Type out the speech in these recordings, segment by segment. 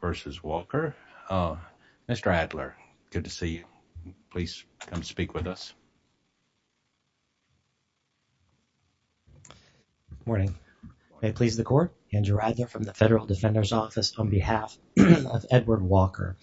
v. Walker. Mr. Adler, good to see you. Please come speak with us. Good morning. May it please the Court, Andrew Adler from the Federal Defender's Office on behalf of Edward Walker.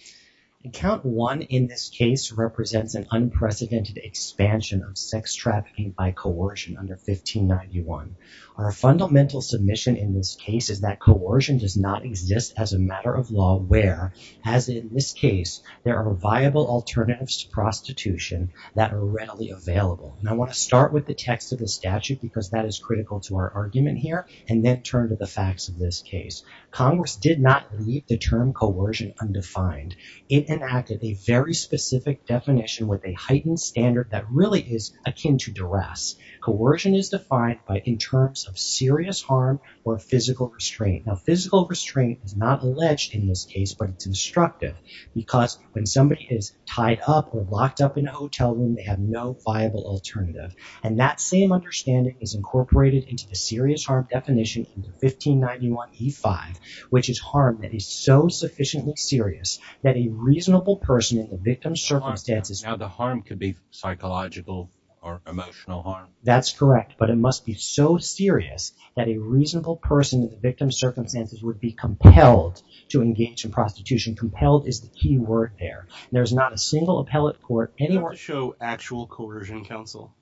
Account 1 in this case represents an unprecedented expansion of sex trafficking by coercion under 1591. Our fundamental submission in this case is that coercion does not exist as a matter of law where, as in this case, there are viable alternatives to prostitution that are readily available. And I want to start with the text of the statute because that is critical to our argument here and then turn to the facts of this case. Congress did not leave the term coercion undefined. It enacted a very specific definition with a heightened standard that really is akin to duress. Coercion is defined in terms of serious harm or physical restraint. Now, physical restraint is not alleged in this case, but it's instructive because when somebody is tied up or locked up in a hotel room, they have no viable alternative. And that same understanding is incorporated into the serious harm definition in 1591E5, which is harm that is so sufficiently serious that a reasonable person in the victim's circumstances... Now, the harm could be psychological or emotional harm. That's correct, but it must be so serious that a reasonable person in the victim's circumstances would be compelled to engage in prostitution. Compelled is the key word there. There's not a single appellate court anywhere... Do you have to show actual coercion counsel?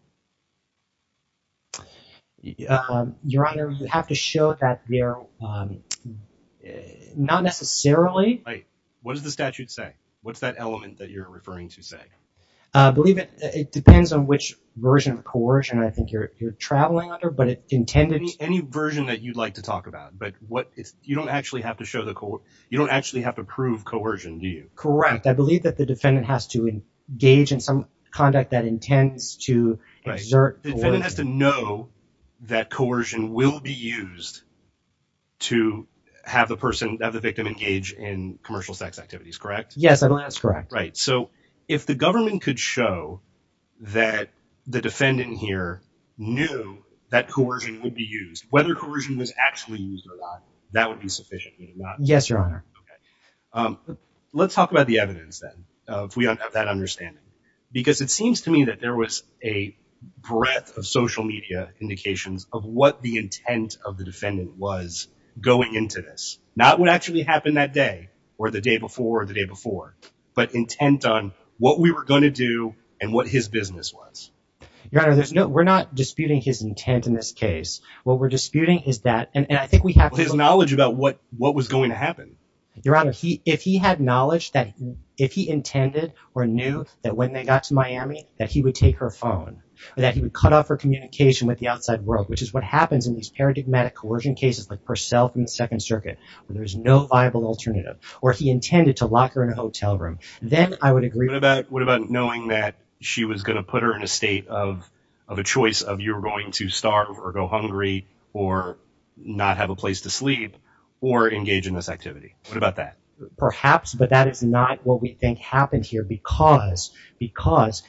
Your Honor, you have to show that they're not necessarily... Wait. What does the statute say? What's that element that you're referring to say? It depends on which version of coercion I think you're traveling under, but it intended... Any version that you'd like to talk about, but you don't actually have to prove coercion, do you? Correct. I believe that the defendant has to engage in some conduct that intends to exert... The defendant has to know that coercion will be used to have the victim engage in commercial sex activities, correct? Yes, that's correct. So, if the government could show that the defendant here knew that coercion would be used, whether coercion was actually used or not, that would be sufficient, would it not? Yes, Your Honor. Okay. Let's talk about the evidence then, if we don't have that understanding. Because it seems to me that there was a breadth of social media indications of what the intent of the defendant was going into this. Not what actually happened that day or the day before or the day before, but intent on what we were going to do and what his business was. Your Honor, we're not disputing his intent in this case. What we're disputing is that... His knowledge about what was going to happen. Your Honor, if he had knowledge that if he intended or knew that when they got to Miami, that he would take her phone or that he would cut off her communication with the outside world, which is what happens in these paradigmatic coercion cases like Purcell from the Second Hotel Room, then I would agree... What about knowing that she was going to put her in a state of a choice of you're going to starve or go hungry or not have a place to sleep or engage in this activity? What about that? Perhaps, but that is not what we think happened here because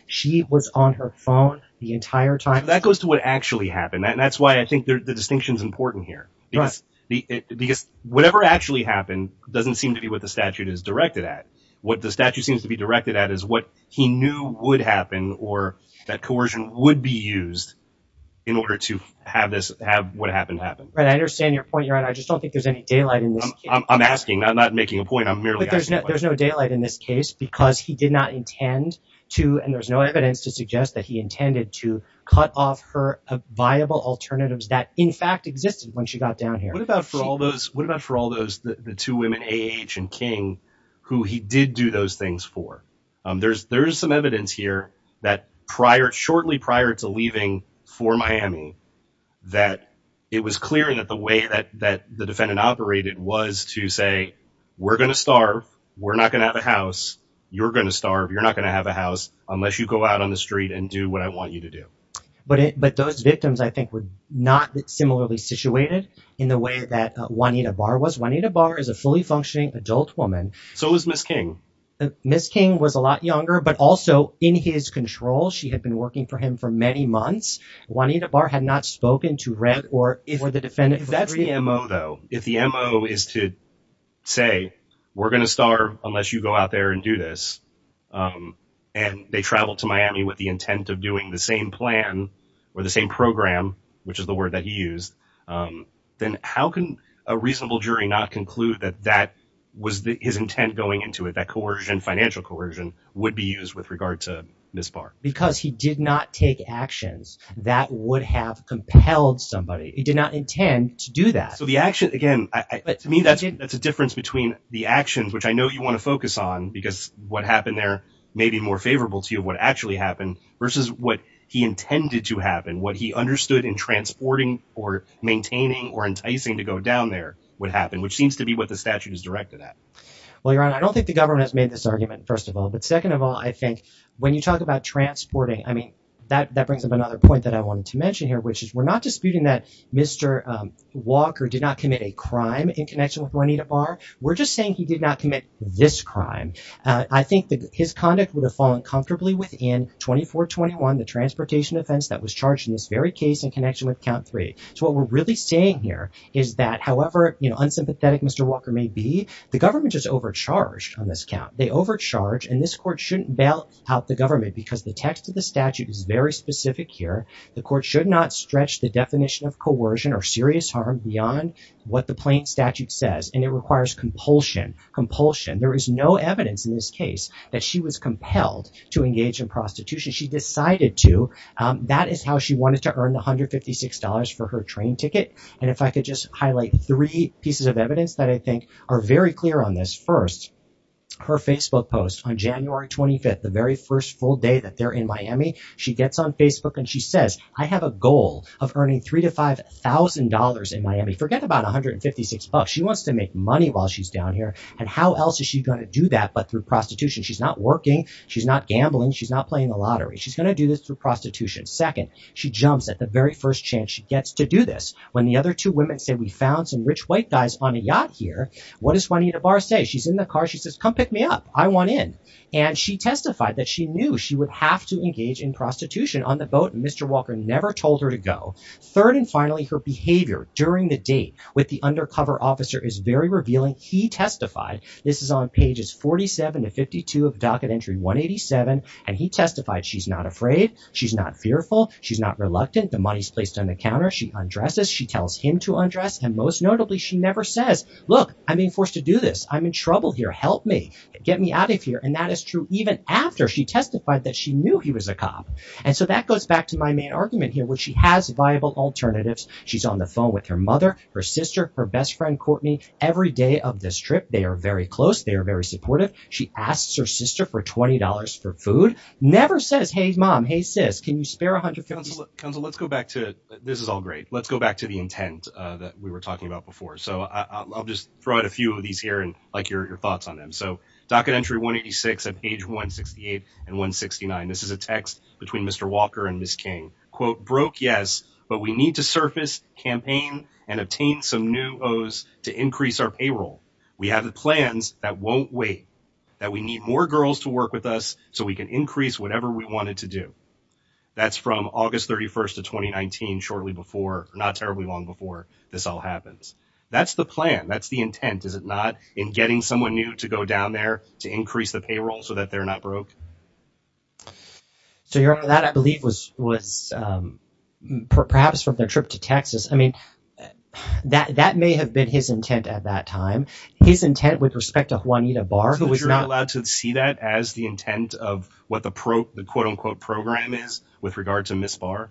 she was on her phone the entire time. That goes to what actually happened, and that's why I think the distinction is important here. Because whatever actually happened doesn't seem to be what the statute is directed at. What the statute seems to be directed at is what he knew would happen or that coercion would be used in order to have what happened happen. Right. I understand your point, Your Honor. I just don't think there's any daylight in this case. I'm asking. I'm not making a point. I'm merely asking. There's no daylight in this case because he did not intend to, and there's no evidence to suggest that he intended to, cut off her viable alternatives that, in fact, existed when she got down here. What about for all the two women, A.H. and King, who he did do those things for? There's some evidence here that shortly prior to leaving for Miami, that it was clear that the way that the defendant operated was to say, we're going to starve. We're not going to have a house. You're going to starve. You're not going to have a house unless you go out on the street and do what I want you to do. But those victims, I think, were not similarly situated in the way that Juanita Barr was. Juanita Barr is a fully functioning adult woman. So was Ms. King. Ms. King was a lot younger, but also in his control. She had been working for him for many months. Juanita Barr had not spoken to Red or the defendant. If that's the M.O., though, if the M.O. is to say, we're going to starve unless you go out there and do this, and they traveled to Miami with the intent of doing the same plan or the same program, which is the word that he used, then how can a reasonable jury not conclude that that was his intent going into it, that coercion, financial coercion, would be used with regard to Ms. Barr? Because he did not take actions that would have compelled somebody. He did not intend to do that. So the action, again, to me, that's a difference between the actions, which I know you want to focus on, because what happened there may be more favorable to you of what actually happened, versus what he intended to happen, what he understood in transporting or maintaining or enticing to go down there would happen, which seems to be what the statute is directed at. Well, Your Honor, I don't think the government has made this argument, first of all. But second of all, I think when you talk about transporting, I mean, that brings up another point that I wanted to mention here, which is we're not disputing that Mr. Walker did not commit a crime in connection with Juanita Barr. We're just saying he did not commit this crime. I think that his conduct would have fallen comfortably within 2421, the transportation offense that was charged in this very case in connection with Count 3. So what we're really saying here is that however, you know, unsympathetic Mr. Walker may be, the government is overcharged on this count. They overcharge and this court shouldn't bail out the government because the text of the statute is very specific here. The court should not stretch the definition of coercion or serious harm beyond what the plain statute says. And it requires compulsion, compulsion. There is no evidence in this case that she was compelled to engage in prostitution. She decided to. That is how she wanted to earn $156 for her train ticket. And if I could just highlight three pieces of evidence that I think are very clear on this. First, her Facebook post on January 25th, the very first full day that they're in Miami, she gets on Facebook and she says, I have a goal of earning $3,000 to $5,000 in Miami. Forget about $156. She wants to make money while she's down here. And how else is she going to do that? But through prostitution, she's not working. She's not gambling. She's not playing the lottery. She's going to do this through prostitution. Second, she jumps at the very first chance she gets to do this. When the other two women say, we found some rich white guys on a yacht here. What does Juanita Barr say? She's in the car. She says, come pick me up. I want in. And she testified that she knew she would have to engage in prostitution on the boat. And Mr. Walker never told her to go. Third and finally, her behavior during the date with the undercover officer is very revealing. He testified, this is on pages 47 to 52 of docket entry 187. And he testified, she's not afraid. She's not fearful. She's not reluctant. The money's placed on the counter. She undresses. She tells him to undress. And most notably, she never says, look, I'm being forced to do this. I'm in trouble here. Help me. Get me out of here. And that is true even after she testified that she knew he was a cop. And so that goes back to my main argument here, which she has viable alternatives. She's on the phone with her mother, her sister, her best friend, Courtney. Every day of this trip, they are very close. They are very supportive. She asks her sister for $20 for food. Never says, hey, mom, hey, sis, can you spare $150? Counselor, let's go back to, this is all great. Let's go back to the intent that we were talking about before. So I'll just throw out a few of these here and like your thoughts on them. So docket entry 186 at page 168 and 169. This is a text between Mr. Walker and Ms. King. Quote, broke, yes. But we need to surface, campaign, and obtain some new O's to increase our payroll. We have the plans that won't wait. That we need more girls to work with us so we can increase whatever we wanted to do. That's from August 31st of 2019, shortly before, not terribly long before this all happens. That's the plan. That's the intent, is it not? In getting someone new to go down there to increase the payroll so that they're not broke. So, Your Honor, that I believe was perhaps from their trip to Texas. I mean, that may have been his intent at that time. His intent with respect to Juanita Barr, who was not— So you're not allowed to see that as the intent of what the quote, unquote, program is with regard to Ms. Barr?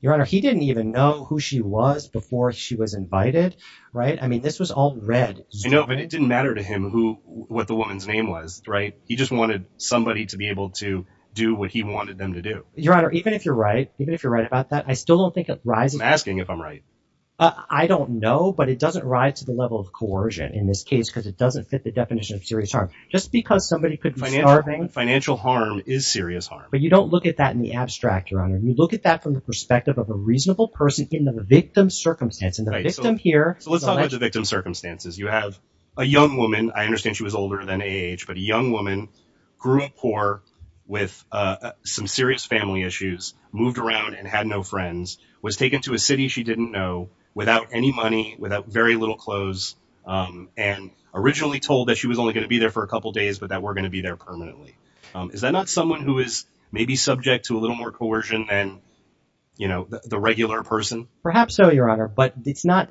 Your Honor, he didn't even know who she was before she was invited, right? I mean, this was all read. You know, but it didn't matter to him who, what the woman's name was, right? He just wanted somebody to be able to do what he wanted them to do. Your Honor, even if you're right, even if you're right about that, I still don't think it rises— I'm asking if I'm right. I don't know, but it doesn't rise to the level of coercion in this case because it doesn't fit the definition of serious harm. Just because somebody could be starving— Financial harm is serious harm. But you don't look at that in the abstract, Your Honor. You look at that from the perspective of a reasonable person in the victim circumstance. And the victim here— So let's talk about the victim circumstances. You have a young woman. I understand she was older than age. But a young woman, grew up poor with some serious family issues, moved around and had no friends, was taken to a city she didn't know without any money, without very little clothes, and originally told that she was only going to be there for a couple days, but that we're going to be there permanently. Is that not someone who is maybe subject to a little more coercion than, you know, the regular person? Perhaps so, Your Honor. But it's not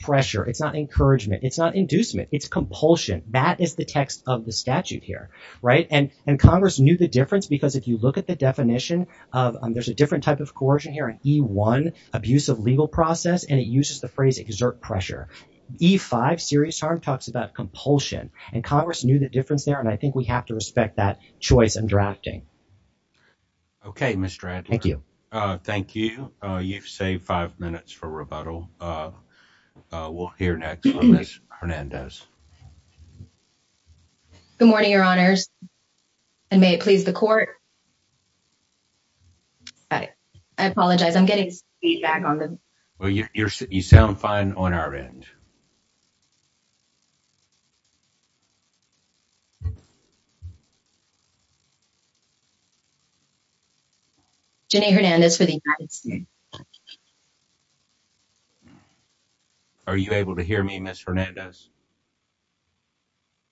pressure. It's not encouragement. It's not inducement. It's compulsion. That is the text of the statute here, right? And Congress knew the difference because if you look at the definition of— there's a different type of coercion here, an E-1, abusive legal process, and it uses the phrase exert pressure. E-5, serious harm, talks about compulsion. And Congress knew the difference there, and I think we have to respect that choice in drafting. Okay, Mr. Adler. Thank you. Thank you. You've saved five minutes for rebuttal. We'll hear next from Ms. Hernandez. Good morning, Your Honors, and may it please the court. All right. I apologize. I'm getting feedback on them. Well, you sound fine on our end. Jenny Hernandez for the United States. Are you able to hear me, Ms. Hernandez?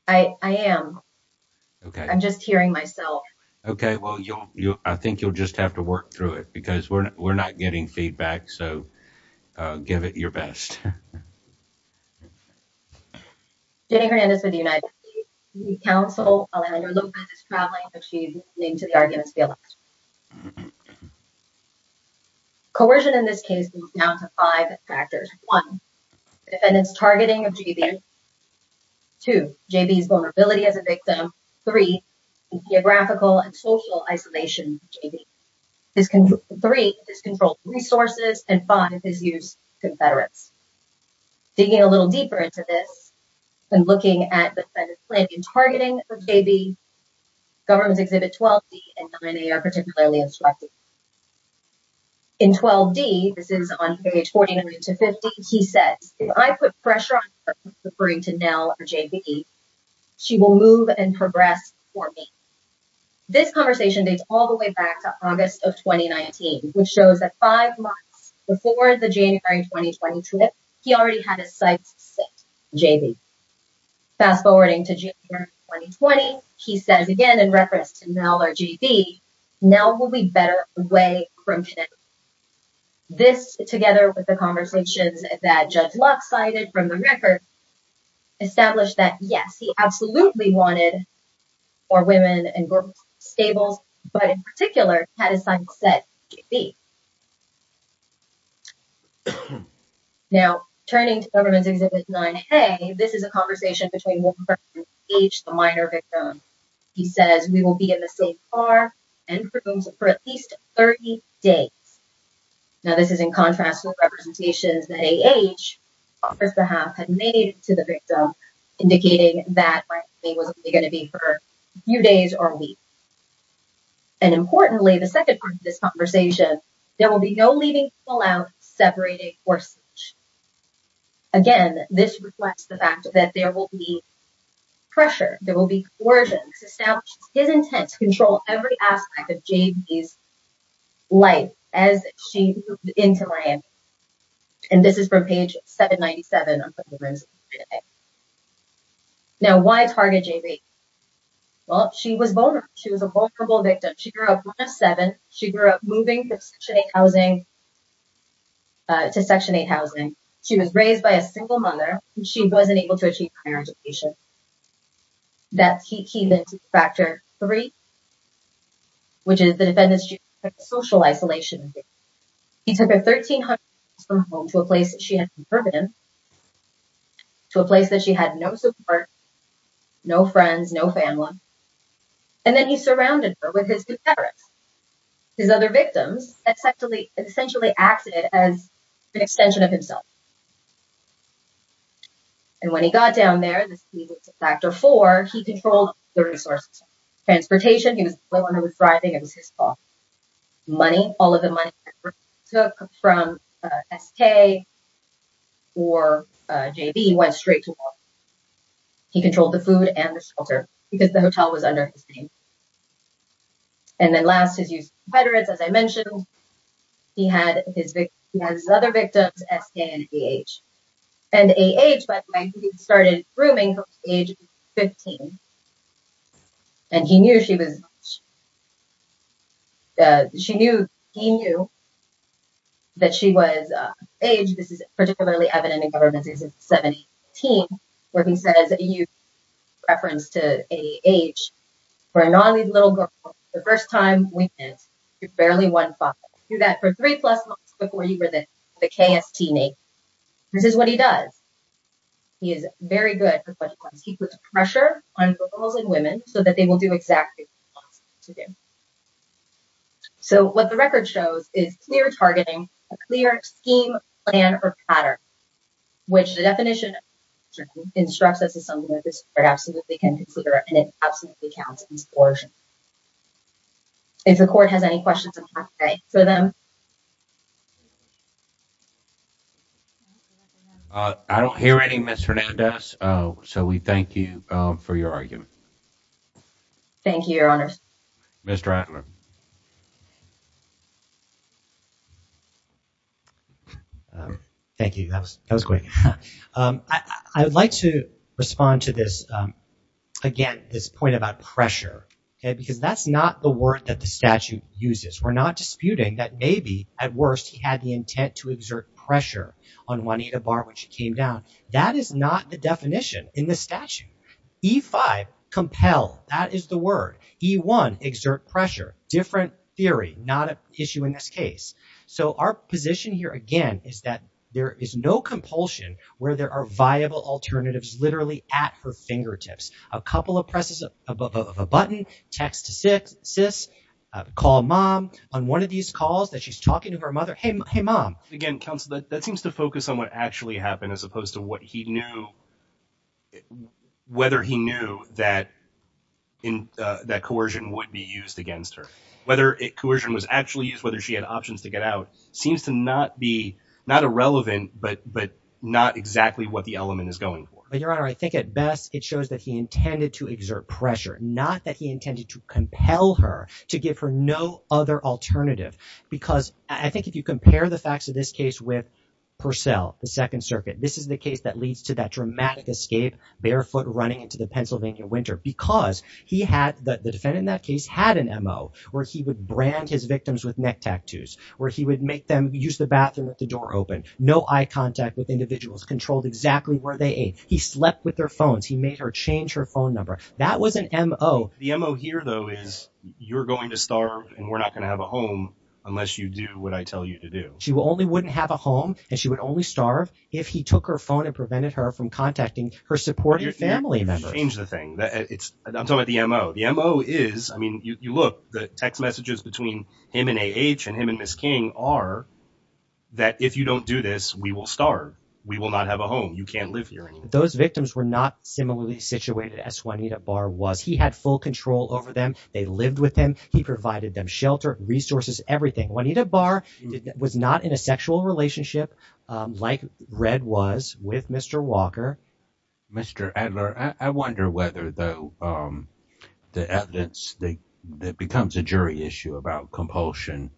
I am. Okay. I'm just hearing myself. Okay. Well, I think you'll just have to work through it because we're not getting feedback, so give it your best. Jenny Hernandez for the United States. The counsel, Alejandra Lopez, is traveling, but she's listening to the arguments of the election. Coercion in this case is down to five factors. One, defendant's targeting of GV. Two, GV's vulnerability as a victim. Three, geographical and social isolation of GV. Three, his controlled resources. And five, his use of Confederates. Digging a little deeper into this, and looking at the defendant's planning and targeting of GV, Governments Exhibit 12D and 9A are particularly instructive. In 12D, this is on page 40 to 50, he says, if I put pressure on her, referring to Nell or GV, she will move and progress for me. This conversation dates all the way back to August of 2019, which shows that five months before the January 2020 trip, he already had his sights set on GV. Fast forwarding to January 2020, he says again in reference to Nell or GV, Nell will be better away from him. This, together with the conversations that Judge Lux cited from the record, established that yes, he absolutely wanted more women and girls in stables, but in particular, had his sights set on GV. Now, turning to Governments Exhibit 9A, this is a conversation between one person, H, the minor victim. He says, we will be in the same car and rooms for at least 30 days. Now, this is in contrast with representations that AH, on his behalf, had made to the victim, indicating that it was only going to be for a few days or a week. And importantly, the second part of this conversation, there will be no leaving, pull out, separating, or switch. Again, this reflects the fact that there will be pressure, there will be coercion. This establishes his intent to control every aspect of GV's life as she moved into Miami. And this is from page 797 of the Resolution 9A. Now, why target GV? Well, she was vulnerable. She was a vulnerable victim. She grew up one of seven. She grew up moving from Section 8 housing to Section 8 housing. She was raised by a single mother. She wasn't able to achieve higher education. That's key then to Factor 3, which is the defendant's social isolation. He took her 1,300 miles from home to a place that she had no support, no friends, no family. And then he surrounded her with his new parents. His other victims essentially acted as an extension of himself. And when he got down there, this leads us to Factor 4. He controlled the resources, transportation. He was the only one who was thriving. It was his fault. Money, all of the money that he took from SK or JB went straight to him. He controlled the food and the shelter because the hotel was under his name. And then last, his youth competitors, as I mentioned, he had his other victims, SK and HB, and AH, by the way, he started grooming her at age 15. And he knew she was, she knew, he knew that she was age, this is particularly evident in government since 17, where he says that you reference to AH, for a non-youth little girl, the first time we met, you're barely one foot. You got for three plus months before you were the KST mate. This is what he does. He is very good. He puts pressure on girls and women so that they will do exactly what he wants them to do. So what the record shows is clear targeting, a clear scheme, plan, or pattern, which the definition instructs us is something that this court absolutely can consider. And it absolutely counts in this portion. If the court has any questions, I'm happy to answer them. I don't hear any Ms. Hernandez. So we thank you for your argument. Thank you, your honors. Mr. Attler. Thank you. That was, that was great. I would like to respond to this, again, this point about pressure, okay, because that's not the word that the statute uses. he had the right to do that. The intent to exert pressure on Juanita Barr when she came down. That is not the definition in the statute. E5, compel. That is the word. E1, exert pressure. Different theory, not an issue in this case. So our position here, again, is that there is no compulsion where there are viable alternatives, literally at her fingertips. A couple of presses of a button, text to sis, call mom on one of these calls that she's talking to her mother. Hey mom. Again, counsel, that seems to focus on what actually happened as opposed to what he knew, whether he knew that coercion would be used against her. Whether it, coercion was actually used, whether she had options to get out, seems to not be, not irrelevant, but not exactly what the element is going for. But your honor, I think at best, it shows that he intended to exert pressure, not that he intended to compel her, to give her no other alternative. Because I think if you compare the facts of this case with Purcell, the Second Circuit, this is the case that leads to that dramatic escape, barefoot running into the Pennsylvania winter, because he had, the defendant in that case had an MO, where he would brand his victims with neck tattoos, where he would make them use the bathroom with the door open, no eye contact with individuals, controlled exactly where they ate. He slept with their phones. He made her change her phone number. That was an MO. The MO here though is, you're going to starve, and we're not going to have a home, unless you do what I tell you to do. She only wouldn't have a home, and she would only starve, if he took her phone and prevented her from contacting her supporting family members. You've changed the thing. It's, I'm talking about the MO. The MO is, I mean, you look, the text messages between him and A.H. and him and Ms. King are, that if you don't do this, we will starve. We will not have a home. You can't live here anymore. Those victims were not similarly situated as Juanita Barr was. He had full control over them. They lived with him. He provided them shelter, resources, everything. Juanita Barr was not in a sexual relationship, like Red was with Mr. Walker. Mr. Adler, I wonder whether though, the evidence that becomes a jury issue about compulsion,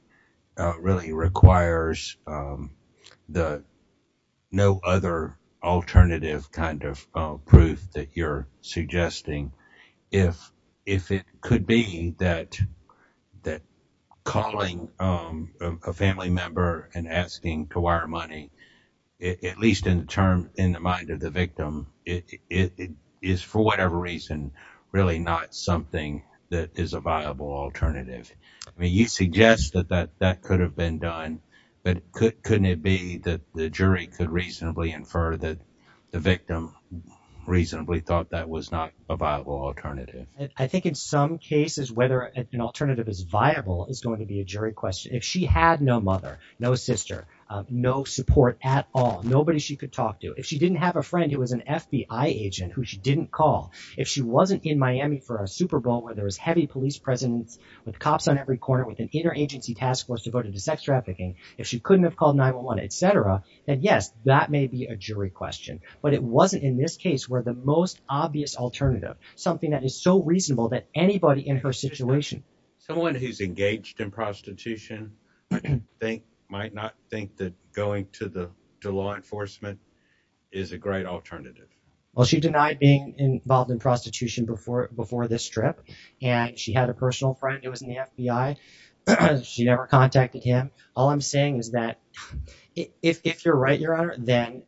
really requires the, no other alternative kind of proof that you're suggesting. If it could be that calling a family member and asking to wire money, at least in the term, in the mind of the victim, it is for whatever reason, really not something that is a viable alternative. I mean, you suggest that that could have been done, but couldn't it be that the jury could reasonably infer that the victim reasonably thought that was not a viable alternative? I think in some cases, whether an alternative is viable is going to be a jury question. If she had no mother, no sister, no support at all, nobody she could talk to, if she didn't have a friend who was an FBI agent, who she didn't call, if she wasn't in Miami for a Super Bowl, where there was heavy police presence with cops on every corner, with an interagency task force devoted to sex trafficking, if she couldn't have called 911, et cetera, then yes, that may be a jury question, but it wasn't in this case where the most obvious alternative, something that is so reasonable that anybody in her situation. Someone who's engaged in prostitution might not think that going to law enforcement is a great alternative. Well, she denied being involved in prostitution before this trip, and she had a personal friend who was in the FBI. She never contacted him. All I'm saying is that if you're right, Your Honor, then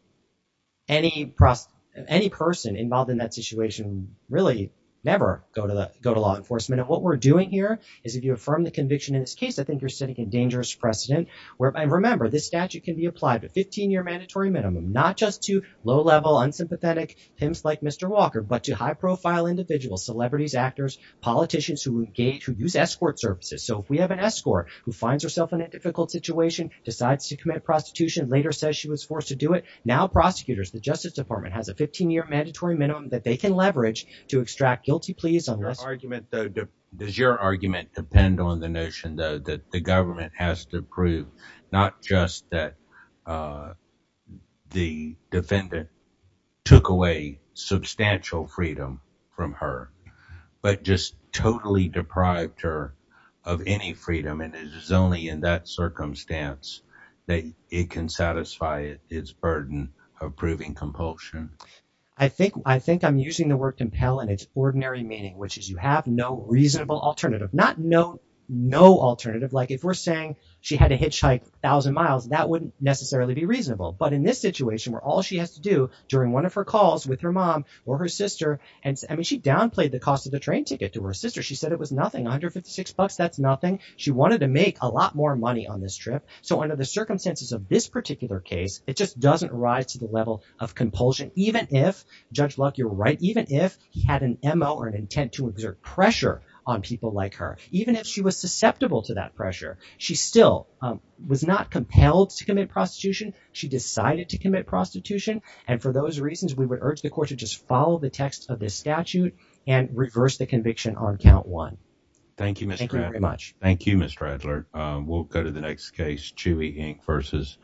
any person involved in that situation really never go to law enforcement. And what we're doing here is if you affirm the conviction in this case, I think you're setting a dangerous precedent where, and remember, this statute can be applied to 15-year mandatory minimum, not just to low-level, unsympathetic pimps like Mr. Walker, but to high-profile individuals, celebrities, actors, politicians who engage, who use escort services. So if we have an escort who finds herself in a difficult situation, decides to commit prostitution, later says she was forced to do it, now prosecutors, the Justice Department, has a 15-year mandatory minimum that they can leverage to extract guilty pleas. Does your argument depend on the notion, though, that the government has to prove not just that the defendant took away substantial freedom from her, but just totally deprived her of any freedom, and it is only in that circumstance that it can satisfy its burden of proving compulsion? I think I'm using the word compel in its ordinary meaning, which is you have no reasonable alternative. Not no alternative, like if we're saying she had to hitchhike 1,000 miles, that wouldn't necessarily be reasonable. But in this situation, where all she has to do during one of her calls with her mom or her sister, and I mean, she downplayed the cost of the train ticket to her sister. She said it was nothing, 156 bucks, that's nothing. She wanted to make a lot more money on this trip, so under the circumstances of this particular case, it just doesn't rise to the level of compulsion, even if, Judge Luck, you're right, even if he had an M.O. or an intent to exert pressure on people like her. Even if she was susceptible to that pressure, she still was not compelled to commit prostitution. She decided to commit prostitution, and for those reasons, we would urge the court to just follow the text of this statute and reverse the conviction on count one. Thank you, Mr. Radler. Thank you, Mr. Radler. We'll go to the next case, Chewy, Inc. vs.